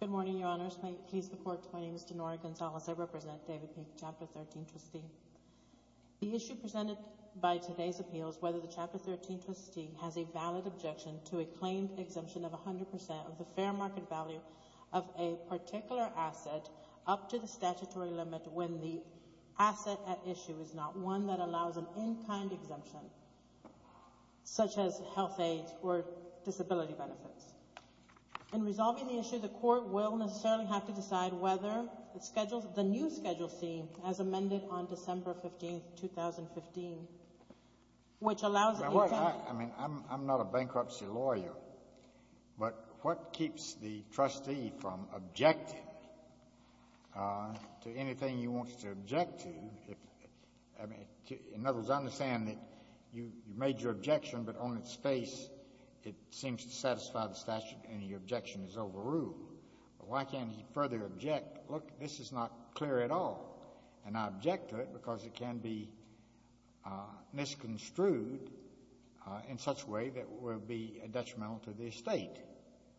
Good morning, Your Honors. May it please the Court, my name is Denora Gonzalez. I represent David Peake, Chapter 13 trustee. The issue presented by today's appeal is whether the Chapter 13 trustee has a valid objection to a claimed exemption of 100% of the fair market value of a particular asset up to the statutory limit when the asset at issue is not one that includes disability benefits. In resolving the issue, the Court will necessarily have to decide whether the new Schedule C as amended on December 15, 2015, which allows it to be found— I mean, I'm not a bankruptcy lawyer, but what keeps the trustee from objecting to anything he wants to object to? In other words, I understand that you made your objection, but on its face it seems to satisfy the statute and your objection is overruled. But why can't he further object, look, this is not clear at all, and I object to it because it can be misconstrued in such a way that will be detrimental to the estate.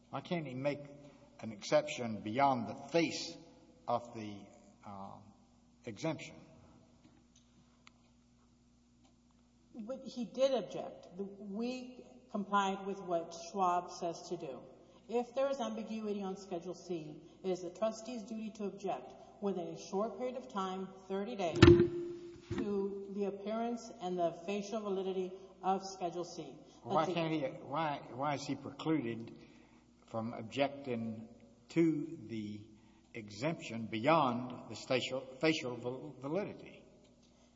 Why can't he make an exception beyond the face of the exemption? He did object. We complied with what Schwab says to do. If there is ambiguity on Schedule C, it is the trustee's duty to object within a short period of time, 30 days, to the appearance and the facial validity of Schedule C. Why can't he — why is he precluded from objecting to the exemption beyond the facial validity?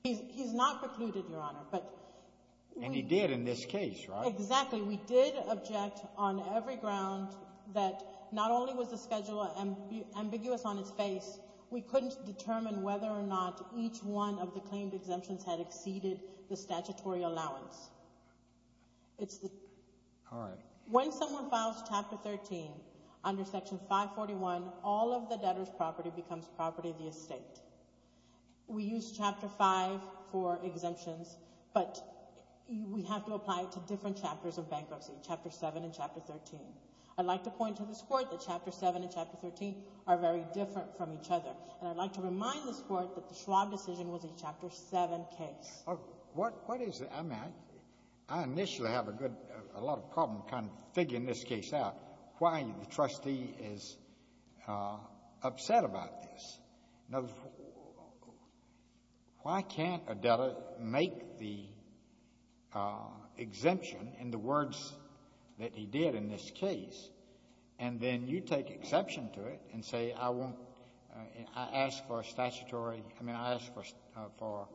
He's not precluded, Your Honor, but we— And he did in this case, right? Exactly. We did object on every ground that not only was the Schedule ambiguous on its face, we couldn't determine whether or not each one of the claimed exemptions had exceeded the statutory allowance. It's the— All right. When someone files Chapter 13 under Section 541, all of the debtor's property becomes property of the estate. We use Chapter 5 for exemptions, but we have to apply it to different chapters of bankruptcy, Chapter 7 and Chapter 13. I'd like to point to this Court that Chapter 7 and Chapter 13 are very different from each other, and I'd like to remind this Court, what is — I mean, I initially have a good — a lot of problem kind of figuring this case out, why the trustee is upset about this. Why can't a debtor make the exemption in the words that he did in this case, and then you take exception to it and say, I won't — I ask for a statutory — I mean, I ask for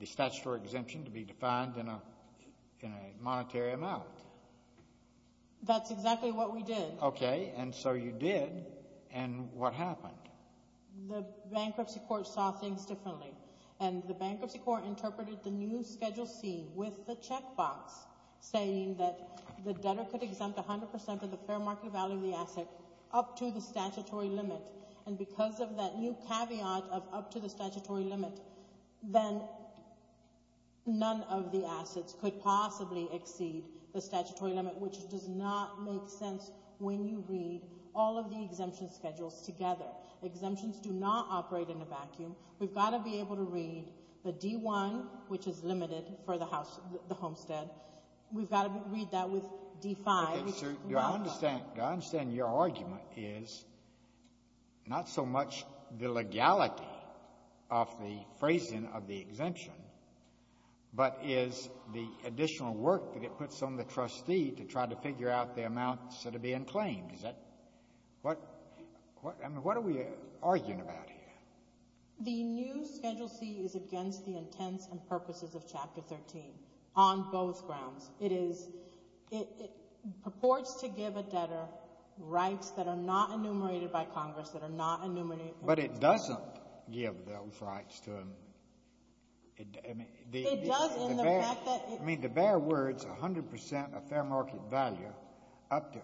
the statutory exemption to be defined in a monetary amount. That's exactly what we did. Okay, and so you did, and what happened? The Bankruptcy Court saw things differently, and the Bankruptcy Court interpreted the new Schedule C with the checkbox saying that the debtor could exempt 100 percent of the fair market value of the asset up to the statutory limit, and because of that new caveat of up to the statutory limit, then none of the assets could possibly exceed the statutory limit, which does not make sense when you read all of the exemption schedules together. Exemptions do not operate in a vacuum. We've got to be able to read the D-1, which is limited for the house — the homestead. We've got to read that with D-5, which is not — Your — I understand — I understand your argument is not so much the legality of the phrasing of the exemption, but is the additional work that it puts on the trustee to try to figure out the amounts that are being claimed. Is that — what — I mean, what are we arguing about here? The new Schedule C is against the intents and purposes of Chapter 13 on both grounds. It is — it purports to give a debtor rights that are not enumerated by Congress, that are not enumerated — But it doesn't give those rights to a — I mean, the — It does, in the fact that — I mean, to bear words, 100 percent of fair market value up to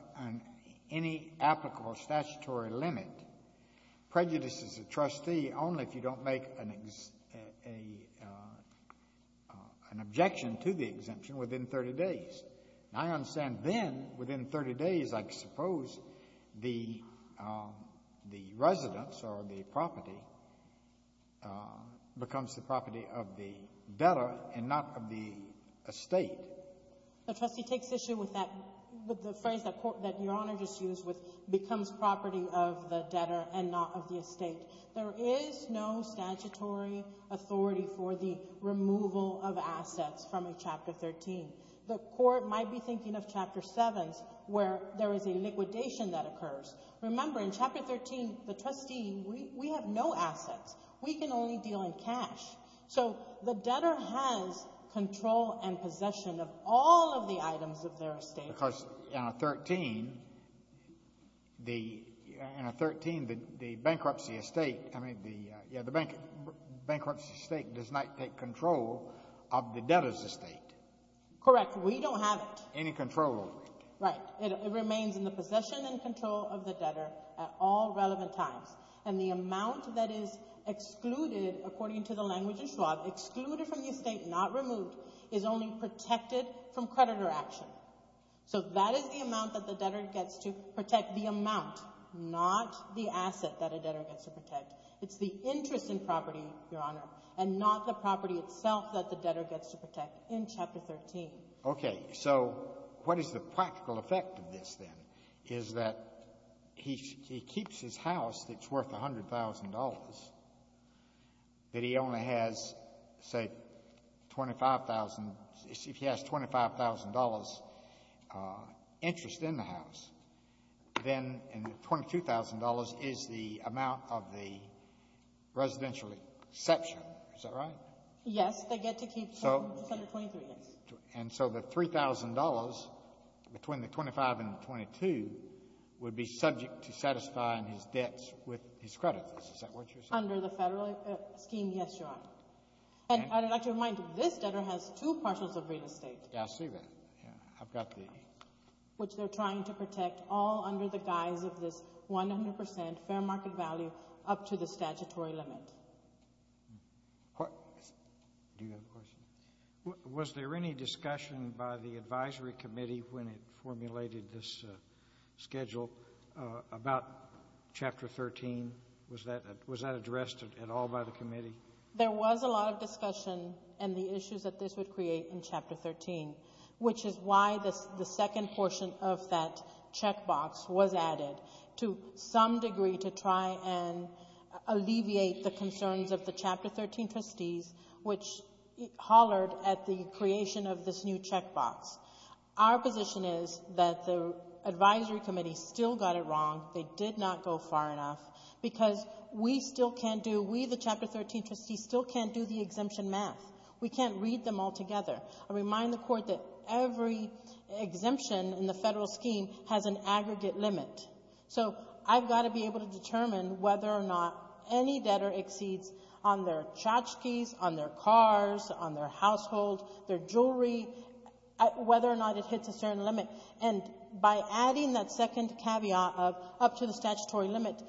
any applicable statutory limit prejudices the trustee only if you don't make an — an objection to the exemption within 30 days. And I understand then, within 30 days, I suppose the — the residence or the property becomes the property of the debtor and not of the estate. But, Trustee, it takes issue with that — with the phrase that your Honor just used, which becomes property of the debtor and not of the estate. There is no statutory authority for the removal of assets from a Chapter 13. The Court might be thinking of Chapter 7s, where there is a liquidation that occurs. Remember, in Chapter 13, the trustee — we have no assets. We can only deal in cash. So the debtor has control and possession of all of the items of their estate. Because in a 13, the — in a 13, the bankruptcy estate — I mean, the — yeah, the bankruptcy estate does not take control of the debtor's estate. Correct. We don't have it. Any control over it. Right. It remains in the possession and control of the debtor at all relevant times. And the amount that is excluded, according to the language of Schwab, excluded from the estate, not removed, is only protected from creditor action. So that is the amount that the debtor gets to protect, the amount, not the asset that a debtor gets to protect. It's the interest in property, Your Honor, and not the property itself that the debtor gets to protect in Chapter 13. Okay. So what is the practical effect of this, then, is that he keeps his house that's worth $100,000, but he only has, say, $25,000 — if he has $25,000 interest in the house, then $22,000 is the amount of the residential exception. Is that right? Yes. They get to keep $23,000, yes. And so the $3,000, between the $25,000 and the $22,000, would be subject to satisfying his debts with his creditors. Is that what you're saying? Under the Federal scheme, yes, Your Honor. And I'd like to remind you, this debtor has two partials of real estate. Yeah, I see that. Yeah. I've got the — Which they're trying to protect all under the guise of this 100 percent fair market value up to the statutory limit. Do you have a question? Was there any discussion by the advisory committee when it formulated this schedule about Chapter 13? Was that addressed at all by the committee? There was a lot of discussion and the issues that this would create in Chapter 13, which is why the second portion of that checkbox was added, to some degree to try and alleviate the concerns of the Chapter 13 trustees, which hollered at the creation of this new checkbox. Our position is that the advisory committee still got it wrong. They did not go far enough because we still can't do — we, the Chapter 13 trustees, still can't do the exemption math. We can't read them altogether. I remind the Court that every exemption in the Federal scheme has an aggregate limit. So I've got to be able to determine whether or not any debtor exceeds on their tchotchkes, on their cars, on their household, their jewelry, whether or not it hits a certain limit. And by adding that second caveat of up to the statutory limit,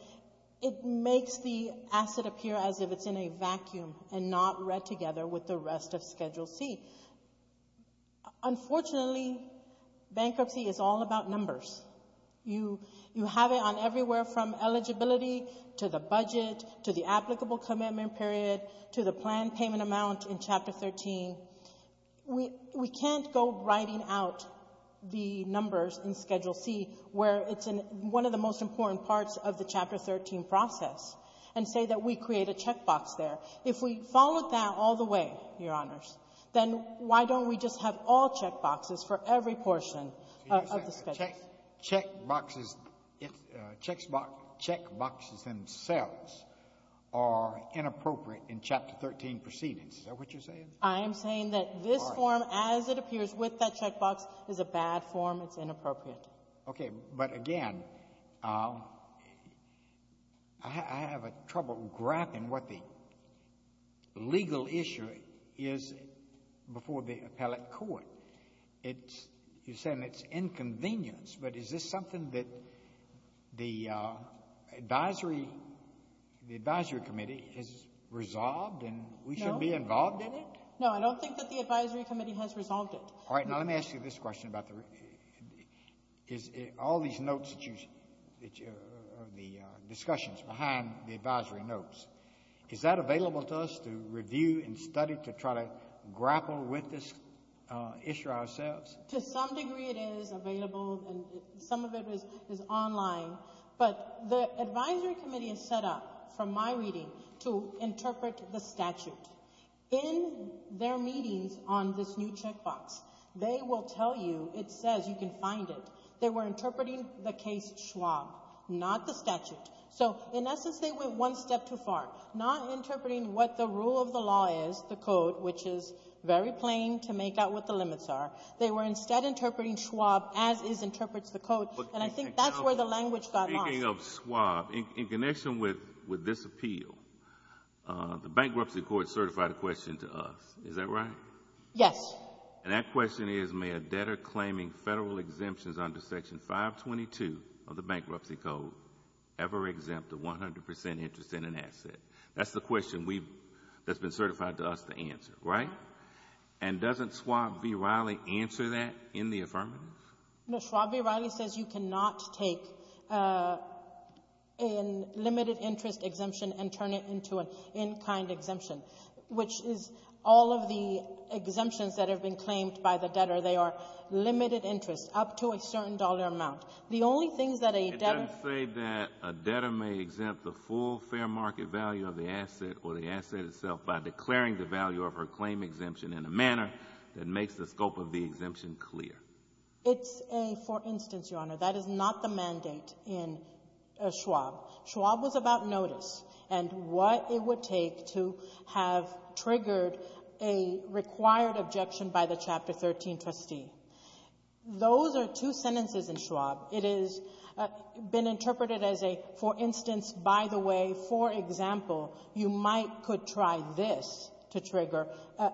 it makes the asset appear as if it's in a vacuum and not read together with the rest of Schedule C. Unfortunately, bankruptcy is all about numbers. You have it on everywhere from eligibility to the budget to the applicable commitment period to the planned payment amount in Chapter 13. We can't go writing out the numbers in Schedule C where it's one of the most important parts of the Chapter 13 process and say that we create a checkbox there. If we followed that all the way, Your Honors, then why don't we just have all checkboxes for every portion of the Schedule? Checkboxes — checkboxes themselves are inappropriate in Chapter 13 proceedings. Is that what you're saying? I'm saying that this form, as it appears with that checkbox, is a bad form. It's inappropriate. Okay. But again, I have a trouble grappling what the legal issue is before the appellate court. It's — you're saying it's inconvenience, but is this something that the advisory — the advisory committee has resolved and we should be involved in it? No. No, I don't think that the advisory committee has resolved it. All right. Now, let me ask you this question about the — is all these notes that you — the discussions behind the advisory notes, is that available to us to review and study to try to grapple with this issue ourselves? To some degree, it is available, and some of it is online. But the advisory committee has set up, from my reading, to interpret the statute. In their meetings on this new checkbox, they will tell you it says you can find it. They were interpreting the case Schwab, not the statute. So, in essence, they went one step too far, not interpreting what the rule of the law is, the code, which is very plain to make out what the limits are. They were instead interpreting Schwab as is interprets the code, and I think that's where the language got lost. Speaking of Schwab, in connection with this appeal, the bankruptcy court certified a question to us. Is that right? Yes. And that question is, may a debtor claiming Federal exemptions under Section 522 of the Bankruptcy Code ever exempt a 100 percent interest in an asset? That's the question we've — that's been certified to us to answer, right? And doesn't Schwab v. Riley answer that in the affirmative? No, Schwab v. Riley says you cannot take a limited interest exemption and turn it into an in-kind exemption, which is all of the exemptions that have been claimed by the debtor, they are limited interest up to a certain dollar amount. The only things that a debtor — It doesn't say that a debtor may exempt the full fair market value of the asset or the asset itself by declaring the value of her claim exemption in a manner that makes the scope of the exemption clear. It's a — for instance, Your Honor, that is not the mandate in Schwab. Schwab was about notice and what it would take to have triggered a required objection by the Chapter 13 trustee. Those are two sentences in Schwab. It is — been interpreted as a, for instance, by the way, for example, you might could try this to trigger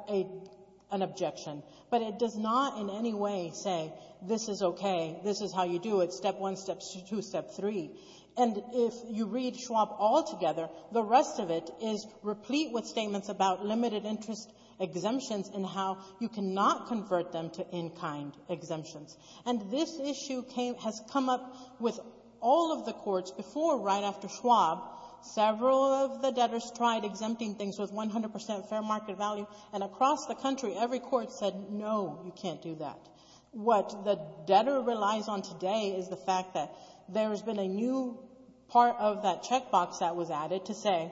an objection. But it does not in any way say, this is okay, this is how you do it, step one, step two, step three. And if you read Schwab altogether, the rest of it is replete with statements about limited interest exemptions and how you cannot convert them to in-kind exemptions. And this issue came — has come up with all of the courts before or right after Schwab. Several of the debtors tried exempting things with 100 percent fair market value. And across the country, every court said, no, you can't do that. What the debtor relies on today is the fact that there has been a new part of that checkbox that was added to say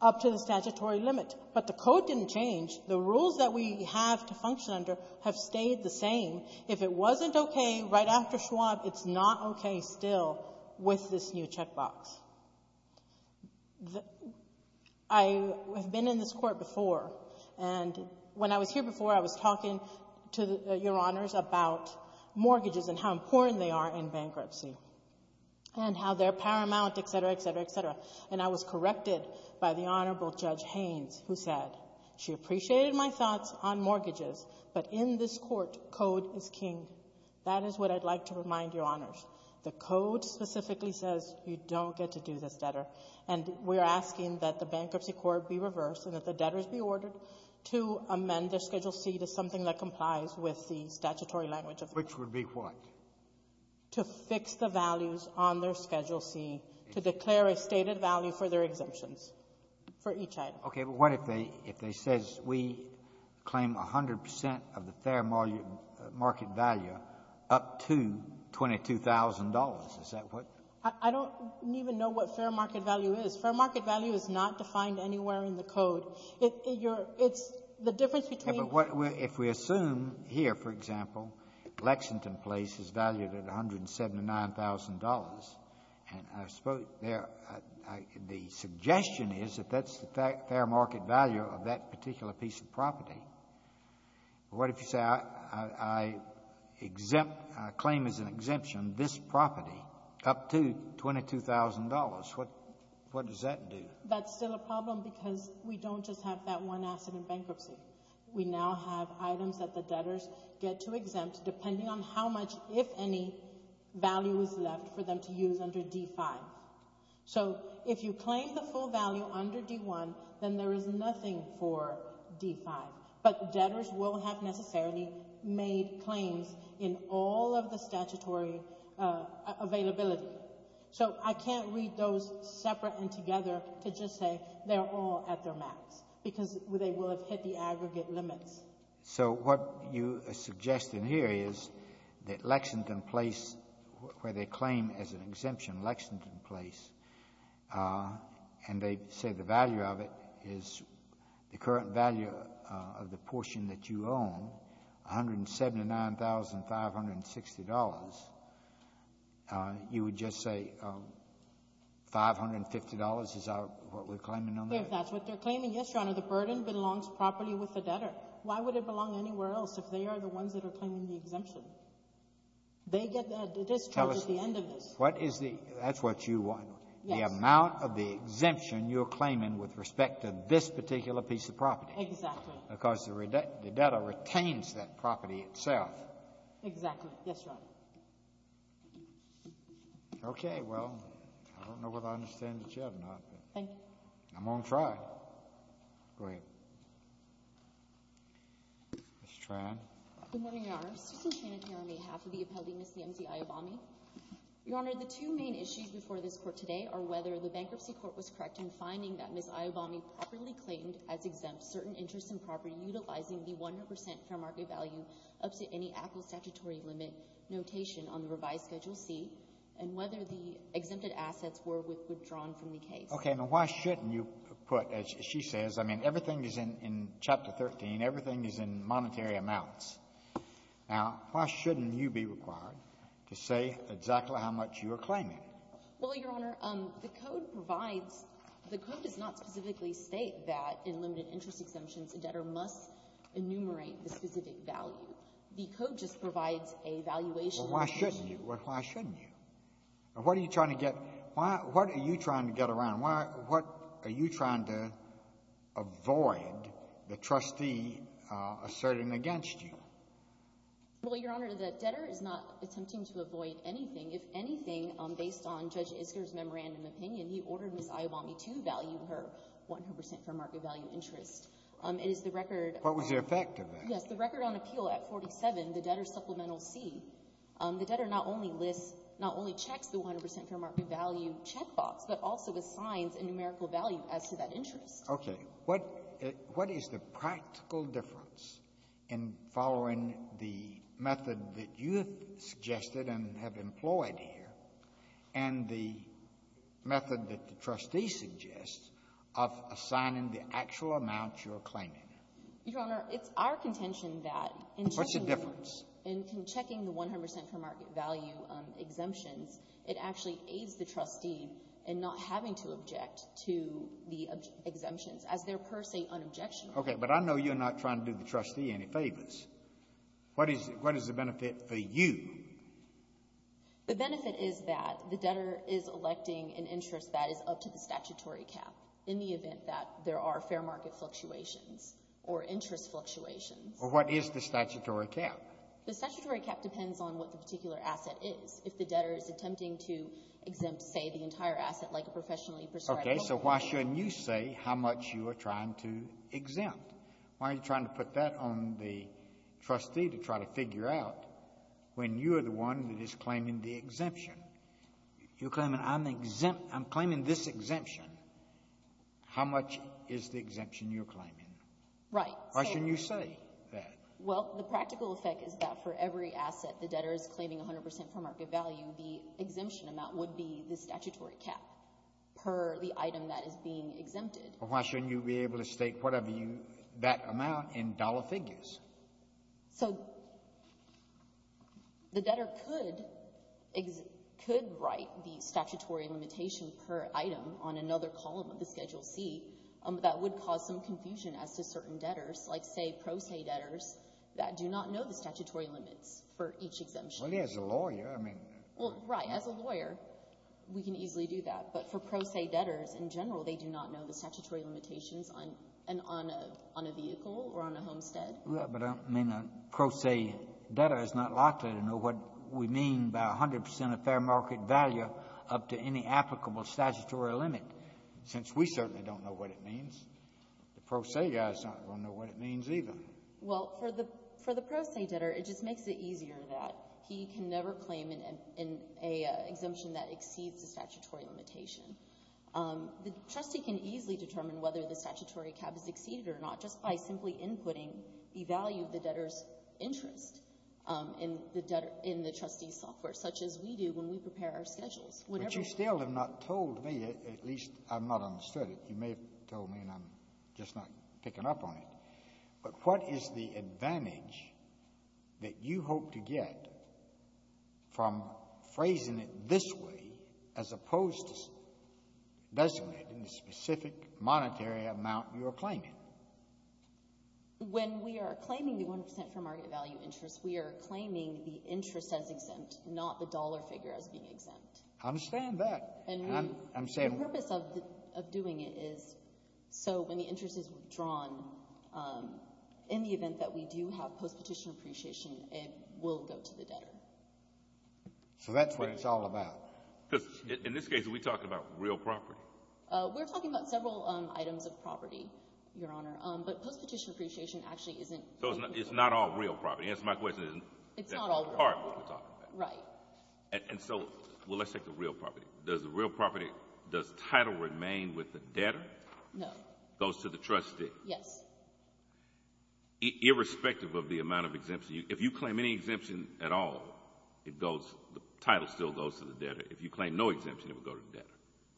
up to the statutory limit. But the code didn't change. The rules that we have to function under have stayed the same. If it wasn't okay right after Schwab, it's not okay still with this new checkbox. I have been in this Court before, and when I was here before, I was talking to Your Honors about mortgages and how important they are in bankruptcy and how they're paramount, et cetera, et cetera, et cetera. And I was corrected by the Honorable Judge Haynes, who said, she appreciated my thoughts on mortgages, but in this Court, code is king. That is what I'd like to remind Your Honors. The code specifically says you don't get to do this, debtor. And we're asking that the bankruptcy court be in the statutory language. Which would be what? To fix the values on their Schedule C, to declare a stated value for their exemptions for each item. Okay. But what if they says we claim 100 percent of the fair market value up to $22,000? Is that what? I don't even know what fair market value is. Fair market value is not defined anywhere in the code. It's the difference between the two. Well, if we assume here, for example, Lexington Place is valued at $179,000, and I suppose the suggestion is that that's the fair market value of that particular piece of property. What if you say I exempt, I claim as an exemption this property up to $22,000? What does that do? That's still a problem because we don't just have that one asset in bankruptcy. We now have items that the debtors get to exempt depending on how much, if any, value is left for them to use under D-5. So if you claim the full value under D-1, then there is nothing for D-5. But debtors will have necessarily made claims in all of the statutory availability. So I can't read those separate and together to just say they're all at their max because they will have hit the aggregate limits. So what you are suggesting here is that Lexington Place, where they claim as an exemption Lexington Place, and they say the value of it is the current value of the portion that you own, $179,560, you would just say $550 is what we're claiming on that? If that's what they're claiming, yes, Your Honor. The burden belongs properly with the debtor. Why would it belong anywhere else if they are the ones that are claiming the exemption? They get that at the end of this. That's what you want. The amount of the exemption you're claiming with respect to this particular piece of property. Exactly. Because the debtor retains that property itself. Exactly. Yes, Your Honor. Okay. Well, I don't know whether I understand it yet or not. Thank you. I'm going to try. Go ahead. Ms. Tran. Good morning, Your Honor. Susan Tran here on behalf of the appellee, Ms. Nancy Iobami. Your Honor, the two main issues before this Court today are whether the bankruptcy court was correct in finding that Ms. Iobami properly claimed as exempt certain interest in property utilizing the 100 percent fair market value up to any applicable statutory limit notation on the revised Schedule C, and whether the exempted assets were withdrawn from the case. Okay. Now, why shouldn't you put, as she says, I mean, everything is in Chapter 13. Everything is in monetary amounts. Now, why shouldn't you be required to say exactly how much you are claiming? Well, Your Honor, the Code provides — the Code does not specifically state that in limited interest exemptions, a debtor must enumerate the specific value. The Code just provides a valuation. Well, why shouldn't you? Why shouldn't you? What are you trying to get — what are you trying to get around? What are you trying to avoid the trustee asserting against you? Well, Your Honor, the debtor is not attempting to avoid anything. If anything, based on Judge Isker's memorandum opinion, he ordered Ms. Iobami to value her 100 percent fair market value interest. It is the record — What was the effect of that? Yes. The record on appeal at 47, the Debtor Supplemental C, the debtor not only lists — not only checks the 100 percent fair market value checkbox, but also assigns a numerical value as to that interest. Okay. What is the practical difference in following the method that you have suggested and have employed here and the method that the trustee suggests of assigning the actual amount you're claiming? Your Honor, it's our contention that in checking — What's the difference? In checking the 100 percent fair market value exemptions, it actually aids the trustee in not having to object to the exemptions as they're per se unobjectionable. Okay. But I know you're not trying to do the trustee any favors. What is the benefit for you? The benefit is that the debtor is electing an interest that is up to the statutory cap in the event that there are fair market fluctuations or interest fluctuations. Well, what is the statutory cap? The statutory cap depends on what the particular asset is. If the debtor is attempting to exempt, say, the entire asset like a professionally prescribed — So why shouldn't you say how much you are trying to exempt? Why are you trying to put that on the trustee to try to figure out when you are the one that is claiming the exemption? You're claiming, I'm claiming this exemption. How much is the exemption you're claiming? Right. Why shouldn't you say that? Well, the practical effect is that for every asset the debtor is claiming 100 percent fair market value, the exemption amount would be the statutory cap per the item that is being exempted. Why shouldn't you be able to state whatever you — that amount in dollar figures? So the debtor could — could write the statutory limitation per item on another column of the Schedule C. That would cause some confusion as to certain debtors, like, say, pro se debtors, that do not know the statutory limits for each exemption. Well, as a lawyer, I mean — Well, right. As a lawyer, we can easily do that. But for pro se debtors in general, they do not know the statutory limitations on — on a — on a vehicle or on a homestead. Yeah, but I mean, a pro se debtor is not likely to know what we mean by 100 percent of fair market value up to any applicable statutory limit, since we certainly don't know what it means. The pro se guy is not going to know what it means, either. Well, for the — for the pro se debtor, it just makes it easier that he can never claim an — an — an exemption that exceeds the statutory limitation. The trustee can easily determine whether the statutory cap is exceeded or not just by simply inputting the value of the debtor's interest in the debtor — in the trustee's software, such as we do when we prepare our schedules. Whatever — But you still have not told me, at least I've not understood it. You may have told me, and I'm just not picking up on it. But what is the advantage that you hope to get from phrasing it this way, as opposed to designating the specific monetary amount you are claiming? When we are claiming the 100 percent fair market value interest, we are claiming the interest as exempt, not the dollar figure as being exempt. I understand that. And we — I'm saying — In the event that we do have post-petition appreciation, it will go to the debtor. So that's what it's all about. Because in this case, are we talking about real property? We're talking about several items of property, Your Honor. But post-petition appreciation actually isn't — So it's not all real property. That's my question. It's not all real property. That's what we're talking about. Right. And so — well, let's take the real property. Does the real property — does title remain with the debtor? No. Goes to the trustee. Yes. Irrespective of the amount of exemption. If you claim any exemption at all, it goes — the title still goes to the debtor. If you claim no exemption, it will go to the debtor.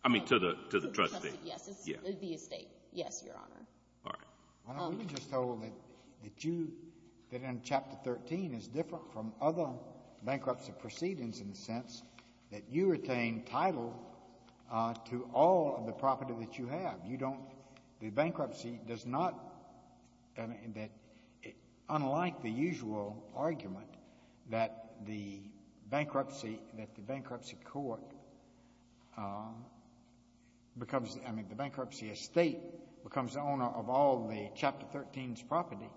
I mean, to the trustee. To the trustee, yes. Yes. The estate. Yes, Your Honor. All right. Well, let me just tell them that you — that in Chapter 13, it's different from other bankruptcy proceedings in the sense that you retain title to all of the property that you have. You don't — the bankruptcy does not — I mean, that unlike the usual argument that the bankruptcy — that the bankruptcy court becomes — I mean, the bankruptcy estate becomes the owner of all the Chapter 13's property,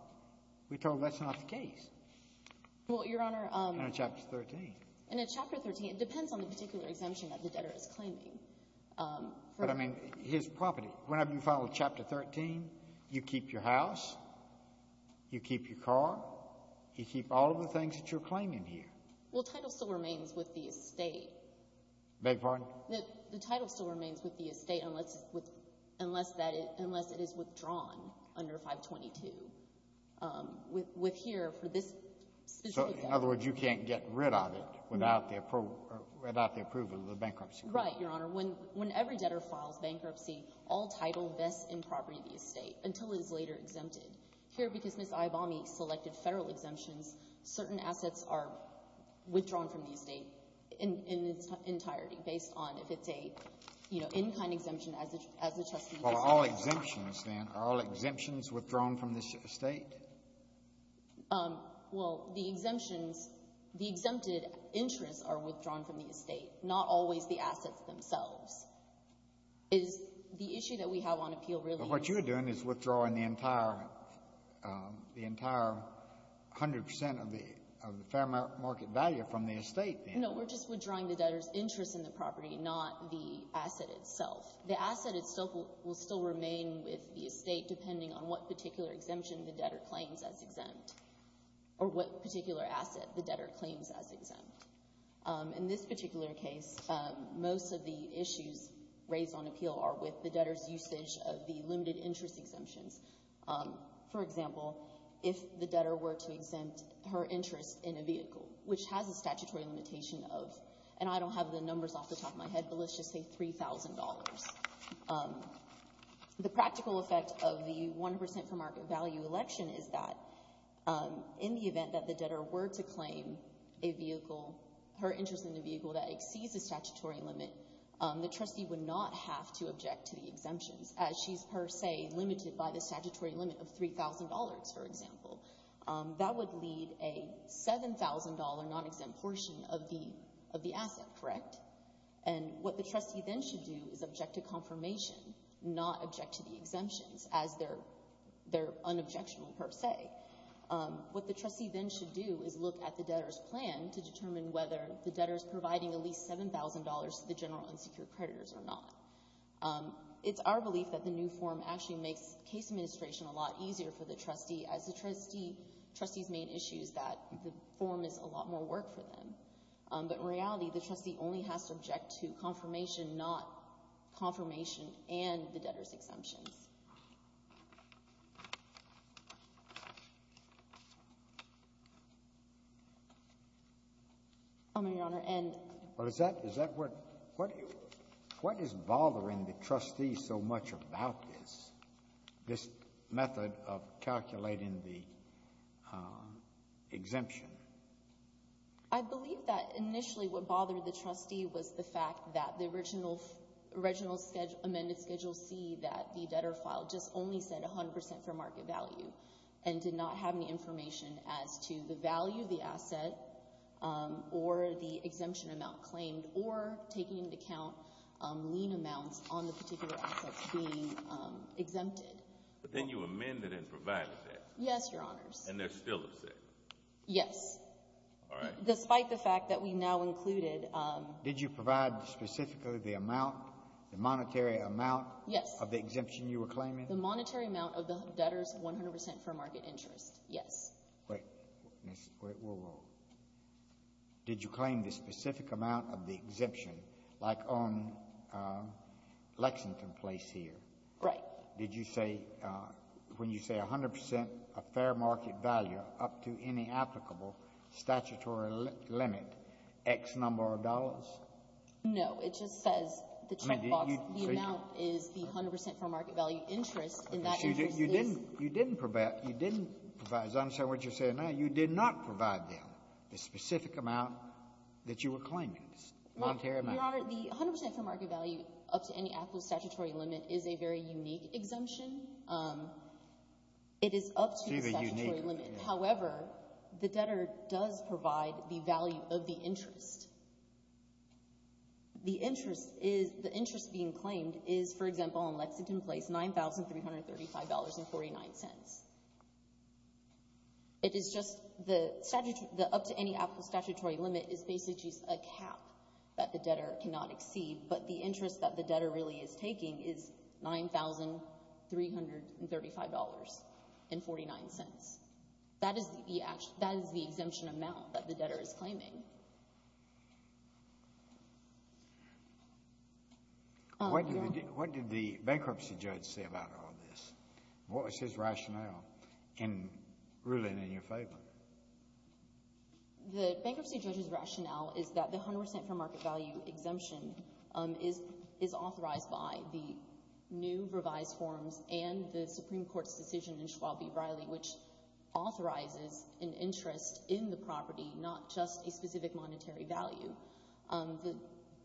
we're told that's not the case. Well, Your Honor — In Chapter 13. In Chapter 13, it depends on the particular exemption that the debtor is claiming. But, I mean, his property, whenever you follow Chapter 13, you keep your house, you keep your car, you keep all of the things that you're claiming here. Well, title still remains with the estate. Beg your pardon? The title still remains with the estate unless it is withdrawn under 522. With here, for this specific — So, in other words, you can't get rid of it without the approval of the bankruptcy attorney? Right, Your Honor. Whenever debtor files bankruptcy, all title vests in property of the estate until it is later exempted. Here, because Ms. Ibami selected Federal exemptions, certain assets are withdrawn from the estate in its entirety based on if it's a, you know, in-kind exemption as the trustee — Well, are all exemptions, then — are all exemptions withdrawn from this estate? Well, the exemptions — the exempted interests are withdrawn from the estate, not always the assets themselves. Is the issue that we have on appeal really — But what you're doing is withdrawing the entire 100 percent of the fair market value from the estate, then. No, we're just withdrawing the debtor's interest in the property, not the asset itself. The asset itself will still remain with the estate depending on what particular exemption the debtor claims as exempt or what particular asset the debtor claims as exempt. In this particular case, most of the issues raised on appeal are with the debtor's usage of the limited interest exemptions. For example, if the debtor were to exempt her interest in a vehicle, which has a statutory limitation of — and I don't have the numbers off the top of my head, but let's just say $3,000. The practical effect of the 100 percent fair market value election is that in the event that the debtor were to claim a vehicle — her interest in a vehicle that exceeds the statutory limit, the trustee would not have to object to the exemptions, as she's per se limited by the statutory limit of $3,000, for example. That would lead a $7,000 non-exempt portion of the asset, correct? And what the trustee then should do is object to confirmation, not object to the exemptions as they're unobjectional per se. What the trustee then should do is look at the debtor's plan to determine whether the debtor's providing at least $7,000 to the general unsecured creditors or not. It's our belief that the new form actually makes case administration a lot easier for the trustee, as the trustee's main issue is that the form is a lot more work for them. But in reality, the trustee only has to object to confirmation, not confirmation and the debtor's exemptions. Well, is that — is that what — what is bothering the trustee so much about this, this method of calculating the exemption? I believe that initially what bothered the trustee was the fact that the original — original amended Schedule C that the debtor filed just only said 100 percent for market value and did not have any information as to the value of the asset or the exemption amount claimed or taking into account lien amounts on the particular assets being exempted. But then you amended and provided that. Yes, Your Honors. And they're still upset. Yes. All right. Despite the fact that we now included — Did you provide specifically the amount, the monetary amount — Yes. — of the exemption you were claiming? The monetary amount of the debtor's 100 percent for market interest. Yes. Wait. Whoa, whoa. Did you claim the specific amount of the exemption, like on Lexington Place here? Right. Did you say — when you say 100 percent of fair market value up to any applicable statutory limit, X number of dollars? No. It just says the checkbox. The amount is the 100 percent fair market value interest, and that interest is — You didn't provide — you didn't provide, as I understand what you're saying now, you did not provide them the specific amount that you were claiming, monetary amount. Your Honor, the 100 percent fair market value up to any applicable statutory limit is a very unique exemption. It is up to the statutory limit. It's either unique or — However, the debtor does provide the value of the interest. The interest is — the interest being claimed is, for example, on Lexington Place, $9,335.49. It is just — the up to any applicable statutory limit is basically just a cap that the debtor cannot exceed, but the interest that the debtor really is taking is $9,335.49. That is the — that is the exemption amount that the debtor is claiming. Your Honor — What did the bankruptcy judge say about all this? What was his rationale in ruling in your favor? The bankruptcy judge's rationale is that the 100 percent fair market value exemption is authorized by the new revised forms and the Supreme Court's decision in Schwalbe-Riley, which authorizes an interest in the property, not just a specific monetary value.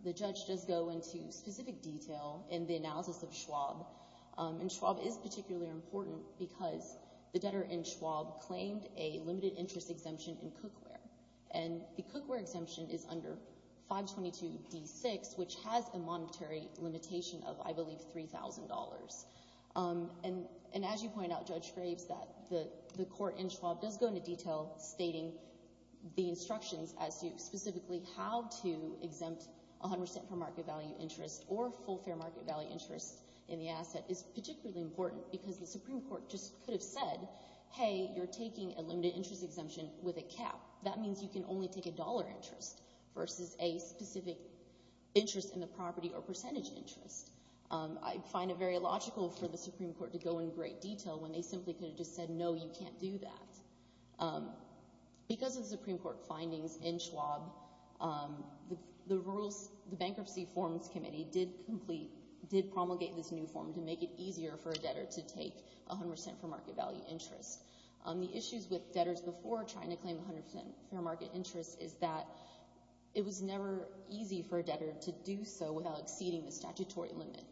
The judge does go into specific detail in the analysis of Schwalbe, and Schwalbe is particularly important because the debtor in Schwalbe claimed a limited interest exemption in Cookware, and the Cookware exemption is under 522d6, which has a monetary limitation of, I believe, $3,000. And as you point out, Judge Graves, that the court in Schwalbe does go into detail stating the instructions as to specifically how to exempt 100 percent for market value interest or full fair market value interest in the asset is particularly important because the Supreme Court just could have said, hey, you're taking a limited interest exemption with a cap. That means you can only take a dollar interest versus a specific interest in the property or percentage interest. I find it very logical for the Supreme Court to go in great detail when they simply could have just said, no, you can't do that. Because of the Supreme Court findings in Schwalbe, the rules, the Bankruptcy Forms Committee did complete, did promulgate this new form to make it easier for a debtor to take 100 percent for market value interest. The issues with debtors before trying to claim 100 percent fair market interest is that it was never easy for a debtor to do so without exceeding the statutory limit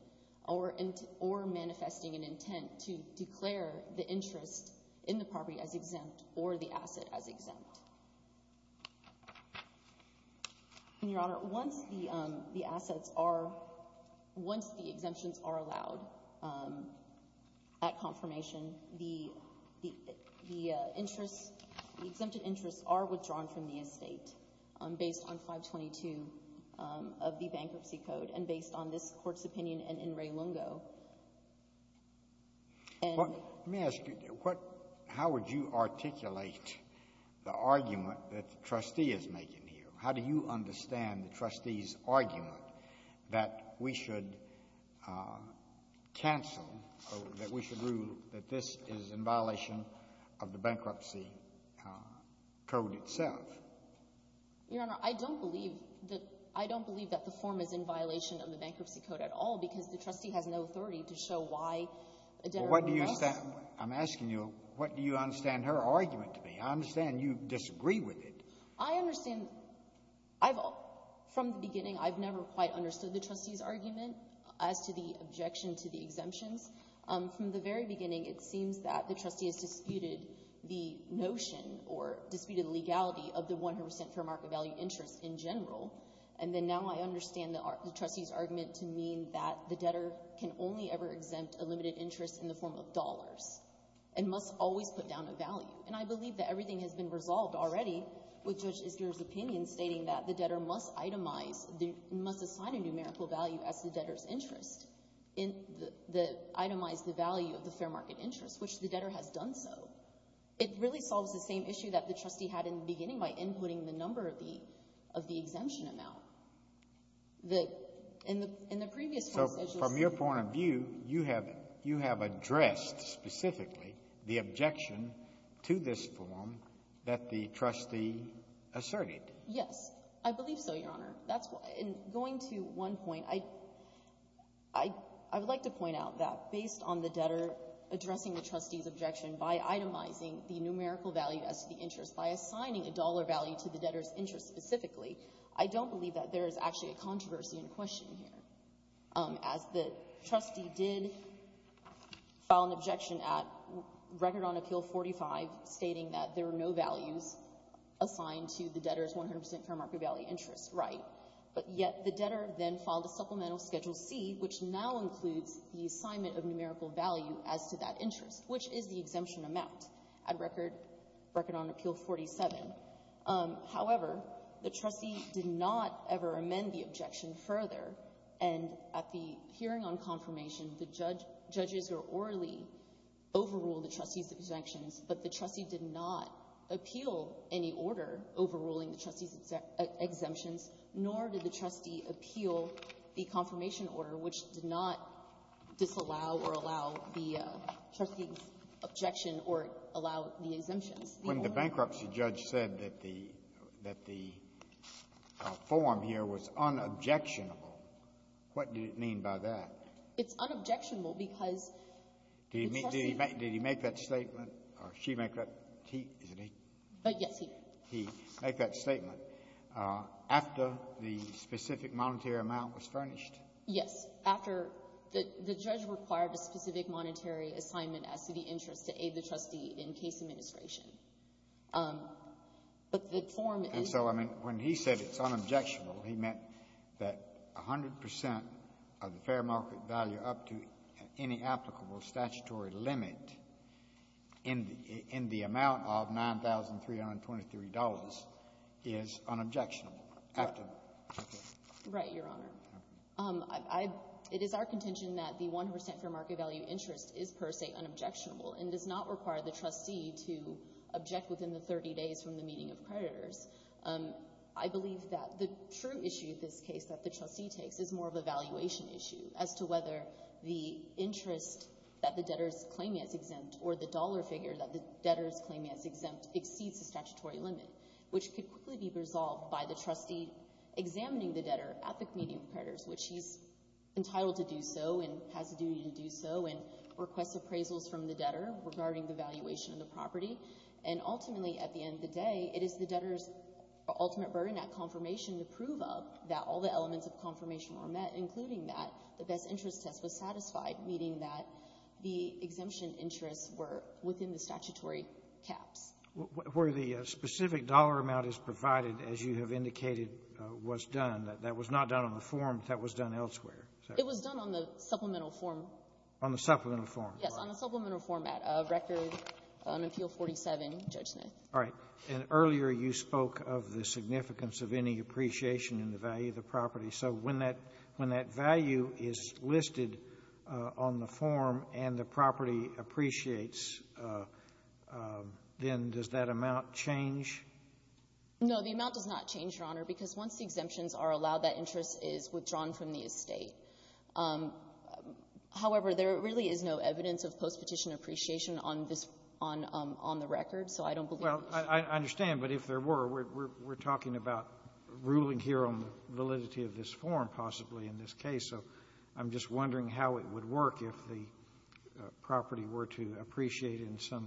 or manifesting an intent to declare the interest in the property as exempt or the asset as exempt. And, Your Honor, once the assets are, once the exemptions are allowed at confirmation, the interests, the exempted interests are withdrawn from the estate based on 522 of the Bankruptcy Code and based on this Court's opinion in In re Lungo. And — Let me ask you, what — how would you articulate the argument that the trustee is making here? How do you understand the trustee's argument that we should cancel or that we should rule that this is in violation of the Bankruptcy Code itself? Your Honor, I don't believe that — I don't believe that the form is in violation of the Bankruptcy Code at all, because the trustee has no authority to show why a debtor — Well, what do you — I'm asking you, what do you understand her argument to be? I understand you disagree with it. I understand — I've — from the beginning, I've never quite understood the trustee's From the very beginning, it seems that the trustee has disputed the notion or disputed the legality of the 100 percent fair market value interest in general, and then now I understand the trustee's argument to mean that the debtor can only ever exempt a limited interest in the form of dollars and must always put down a value. And I believe that everything has been resolved already with Judge Isger's opinion stating that the debtor must itemize — must assign a numerical value as the debtor's interest in the — itemize the value of the fair market interest, which the debtor has done so. It really solves the same issue that the trustee had in the beginning by inputting the number of the — of the exemption amount. The — in the previous — So from your point of view, you have — you have addressed specifically the objection to this form that the trustee asserted. Yes. I believe so, Your Honor. That's — in going to one point, I — I would like to point out that based on the debtor addressing the trustee's objection by itemizing the numerical value as the interest by assigning a dollar value to the debtor's interest specifically, I don't believe that there is actually a controversy in question here. As the trustee did file an objection at Record on Appeal 45 stating that there are no values assigned to the debtor's 100 percent fair market value interest, right? But yet the debtor then filed a supplemental Schedule C, which now includes the assignment of numerical value as to that interest, which is the exemption amount at Record — Record on Appeal 47. However, the trustee did not ever amend the objection further, and at the hearing on confirmation, the judge — judges were orally — overruled the trustee's objections, but the trustee did not appeal any order overruling the trustee's exemptions, nor did the trustee appeal the confirmation order, which did not disallow or allow the trustee's objection or allow the exemptions. When the bankruptcy judge said that the — that the form here was unobjectionable, what did it mean by that? Did he make — did he make that statement, or she make that — he, isn't he? But, yes, he did. He made that statement after the specific monetary amount was furnished? Yes. After the — the judge required a specific monetary assignment as to the interest to aid the trustee in case administration. But the form is — And so, I mean, when he said it's unobjectionable, he meant that 100 percent of the fair market value up to any applicable statutory limit in the amount of $9,323 is unobjectionable, after the — Right, Your Honor. I — it is our contention that the 100 percent fair market value interest is per se unobjectionable and does not require the trustee to object within the 30 days from the meeting of creditors. I believe that the true issue in this case that the trustee takes is more of a valuation issue as to whether the interest that the debtor is claiming as exempt or the dollar figure that the debtor is claiming as exempt exceeds the statutory limit, which could quickly be resolved by the trustee examining the debtor at the meeting of creditors, which he's entitled to do so and has a duty to do so and requests appraisals from the debtor regarding the valuation of the property. And ultimately, at the end of the day, it is the debtor's ultimate burden, that confirmation to prove up that all the elements of confirmation were met, including that the best interest test was satisfied, meaning that the exemption interests were within the statutory caps. Where the specific dollar amount is provided, as you have indicated, was done. That was not done on the form. That was done elsewhere. It was done on the supplemental form. On the supplemental form. Yes, on the supplemental format of record on Appeal 47, Judge Smith. All right. And earlier you spoke of the significance of any appreciation in the value of the property. So when that value is listed on the form and the property appreciates, then does that amount change? No, the amount does not change, Your Honor, because once the exemptions are allowed, that interest is withdrawn from the estate. However, there really is no evidence of postpetition appreciation on this one on the record, so I don't believe it. Well, I understand, but if there were, we're talking about ruling here on validity of this form, possibly, in this case. So I'm just wondering how it would work if the property were to appreciate in some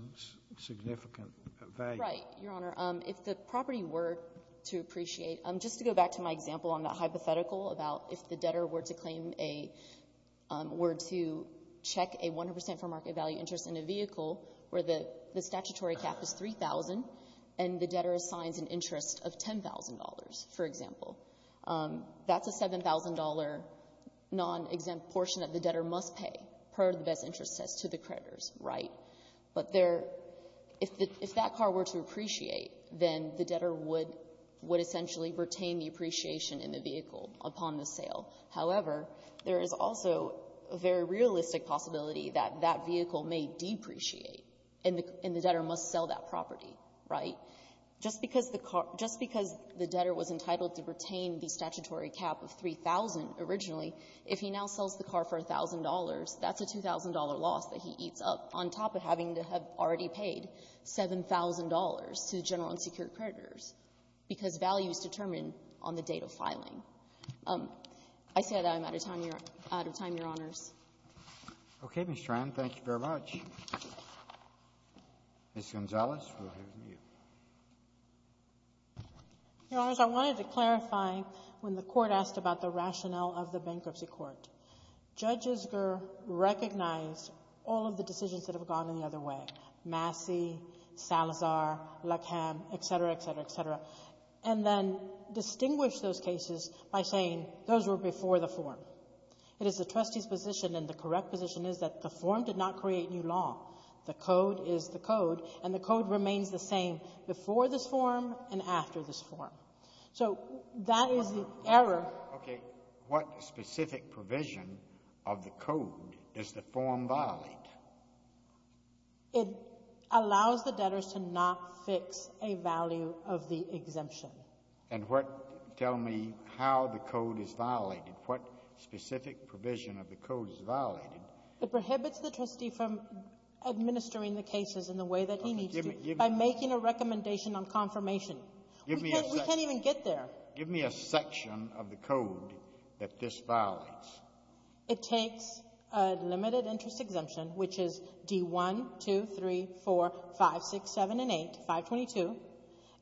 significant value. Right. Your Honor, if the property were to appreciate, just to go back to my example on the hypothetical about if the debtor were to claim a — were to check a 100 percent for market value interest in a vehicle where the statutory cap is 3,000 and the debtor assigns an interest of $10,000, for example. That's a $7,000 non-exempt portion that the debtor must pay per the best interest set to the creditors, right? But there — if that car were to appreciate, then the debtor would — would essentially retain the appreciation in the vehicle upon the sale. However, there is also a very realistic possibility that that vehicle may depreciate and the — and the debtor must sell that property, right? Just because the car — just because the debtor was entitled to retain the statutory cap of 3,000 originally, if he now sells the car for $1,000, that's a $2,000 loss that he eats up on top of having to have already paid $7,000 to the general and secured creditors because values determine on the date of filing. I say that I'm out of time, Your Honors. Roberts. Okay, Ms. Tran. Thank you very much. Ms. Gonzalez, we'll hear from you. Gonzalez. Your Honors, I wanted to clarify when the Court asked about the rationale of the bankruptcy court. Judge Isger recognized all of the decisions that have gone in the other way — Massey, Salazar, Leckham, et cetera, et cetera, et cetera — and then distinguished those cases by saying those were before the form. It is the trustee's position, and the correct position is that the form did not create new law. The code is the code, and the code remains the same before this form and after this form. So that is the error. Okay. What specific provision of the code does the form violate? It allows the debtors to not fix a value of the exemption. And what — tell me how the code is violated. What specific provision of the code is violated? It prohibits the trustee from administering the cases in the way that he needs to by making a recommendation on confirmation. We can't even get there. Give me a section of the code that this violates. It takes a limited-interest exemption, which is D-1, 2, 3, 4, 5, 6, 7, and 8, 522,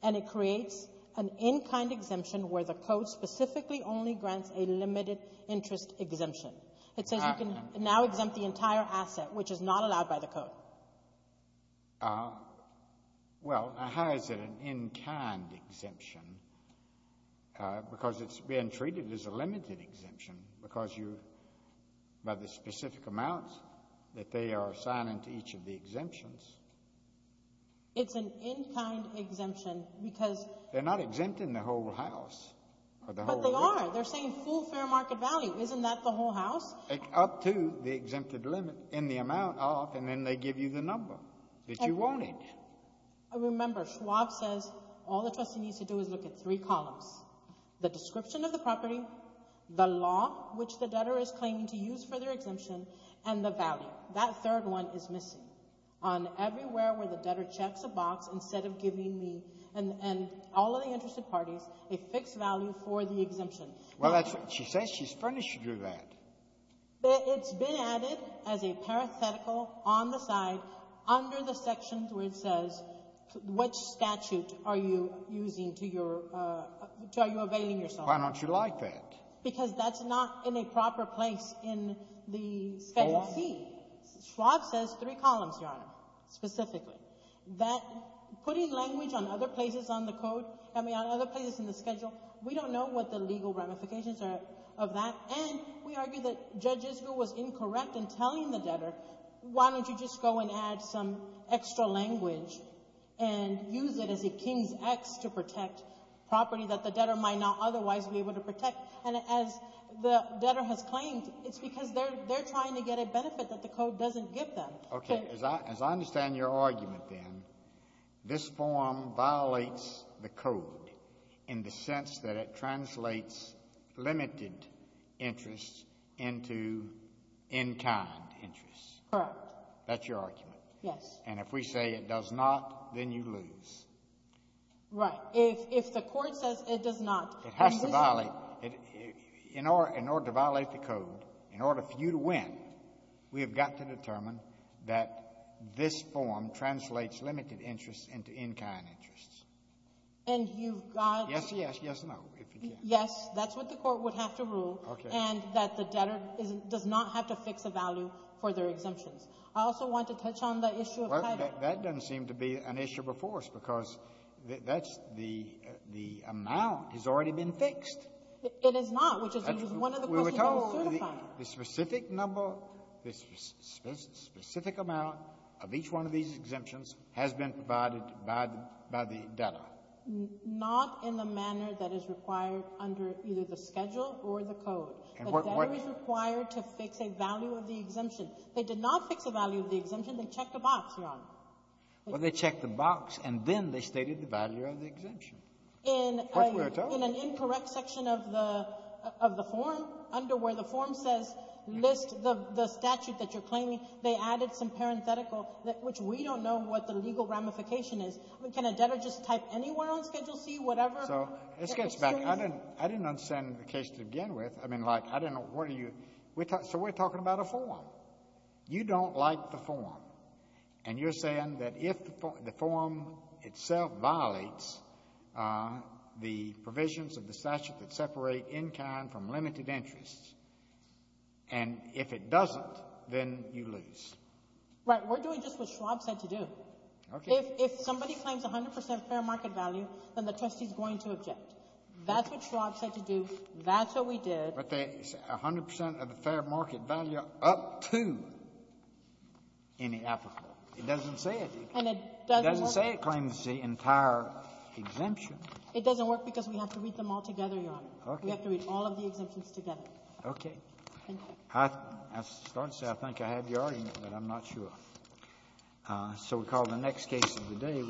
and it creates an in-kind exemption where the code specifically only grants a limited-interest exemption. It says you can now exempt the entire asset, which is not allowed by the code. Well, how is it an in-kind exemption? Because it's been treated as a limited exemption because you — by the specific amounts that they are assigning to each of the exemptions. It's an in-kind exemption because — They're not exempting the whole house. But they are. They're saying full fair market value. Isn't that the whole house? Up to the exempted limit in the amount off, and then they give you the number that you wanted. Remember, Schwab says all the trustee needs to do is look at three columns, the description of the property, the law, which the debtor is claiming to use for their exemption, and the value. That third one is missing. On everywhere where the debtor checks a box instead of giving the — and all the interested parties a fixed value for the exemption. Well, that's what she says. She's furnished you with that. It's been added as a parenthetical on the side under the section where it says which statute are you using to your — to are you availing yourself. Why don't you like that? Because that's not in a proper place in the — Oh, yeah, yeah. Schwab says three columns, Your Honor, specifically. That — putting language on other places on the code — I mean, on other places in the schedule, we don't know what the legal ramifications are of that. And we argue that Judge Isbell was incorrect in telling the debtor, why don't you just go and add some extra language and use it as a king's ax to protect property that the debtor might not otherwise be able to protect. And as the debtor has claimed, it's because they're trying to get a benefit that the code doesn't give them. Okay. As I understand your argument, then, this form violates the code in the sense that it translates limited interest into in-kind interest. Correct. That's your argument. Yes. And if we say it does not, then you lose. Right. If the court says it does not, then we lose. It has to violate — in order to violate the code, in order for you to win, we have got to determine that this form translates limited interest into in-kind interest. And you've got — Yes, yes. Yes and no, if you can. Yes. That's what the court would have to rule. Okay. And that the debtor is — does not have to fix a value for their exemptions. I also want to touch on the issue of title. Well, that doesn't seem to be an issue before us because that's the — the amount has already been fixed. It is not, which is one of the questions that was certified. The specific number, the specific amount of each one of these exemptions has been provided by the debtor. Not in the manner that is required under either the schedule or the code. The debtor is required to fix a value of the exemption. They did not fix a value of the exemption. They checked a box, Your Honor. Well, they checked the box, and then they stated the value of the exemption. In an incorrect section of the — of the form, under where the form says, list the — the statute that you're claiming, they added some parenthetical, which we don't know what the legal ramification is. Can a debtor just type anywhere on Schedule C, whatever? So, let's get back. I didn't — I didn't understand the case to begin with. I mean, like, I didn't know what are you — so we're talking about a form. You don't like the form. And you're saying that if the form itself violates the provisions of the statute that separate in kind from limited interests, and if it doesn't, then you lose. Right. We're doing just what Schwab said to do. Okay. If somebody claims 100 percent fair market value, then the trustee is going to object. That's what Schwab said to do. That's what we did. But they said 100 percent of the fair market value up to any applicable. It doesn't say it. And it doesn't work. It doesn't say it claims the entire exemption. It doesn't work because we have to read them all together, Your Honor. Okay. We have to read all of the exemptions together. Okay. Thank you. I have to start to say I think I have your argument, but I'm not sure. So we call the next case of the day.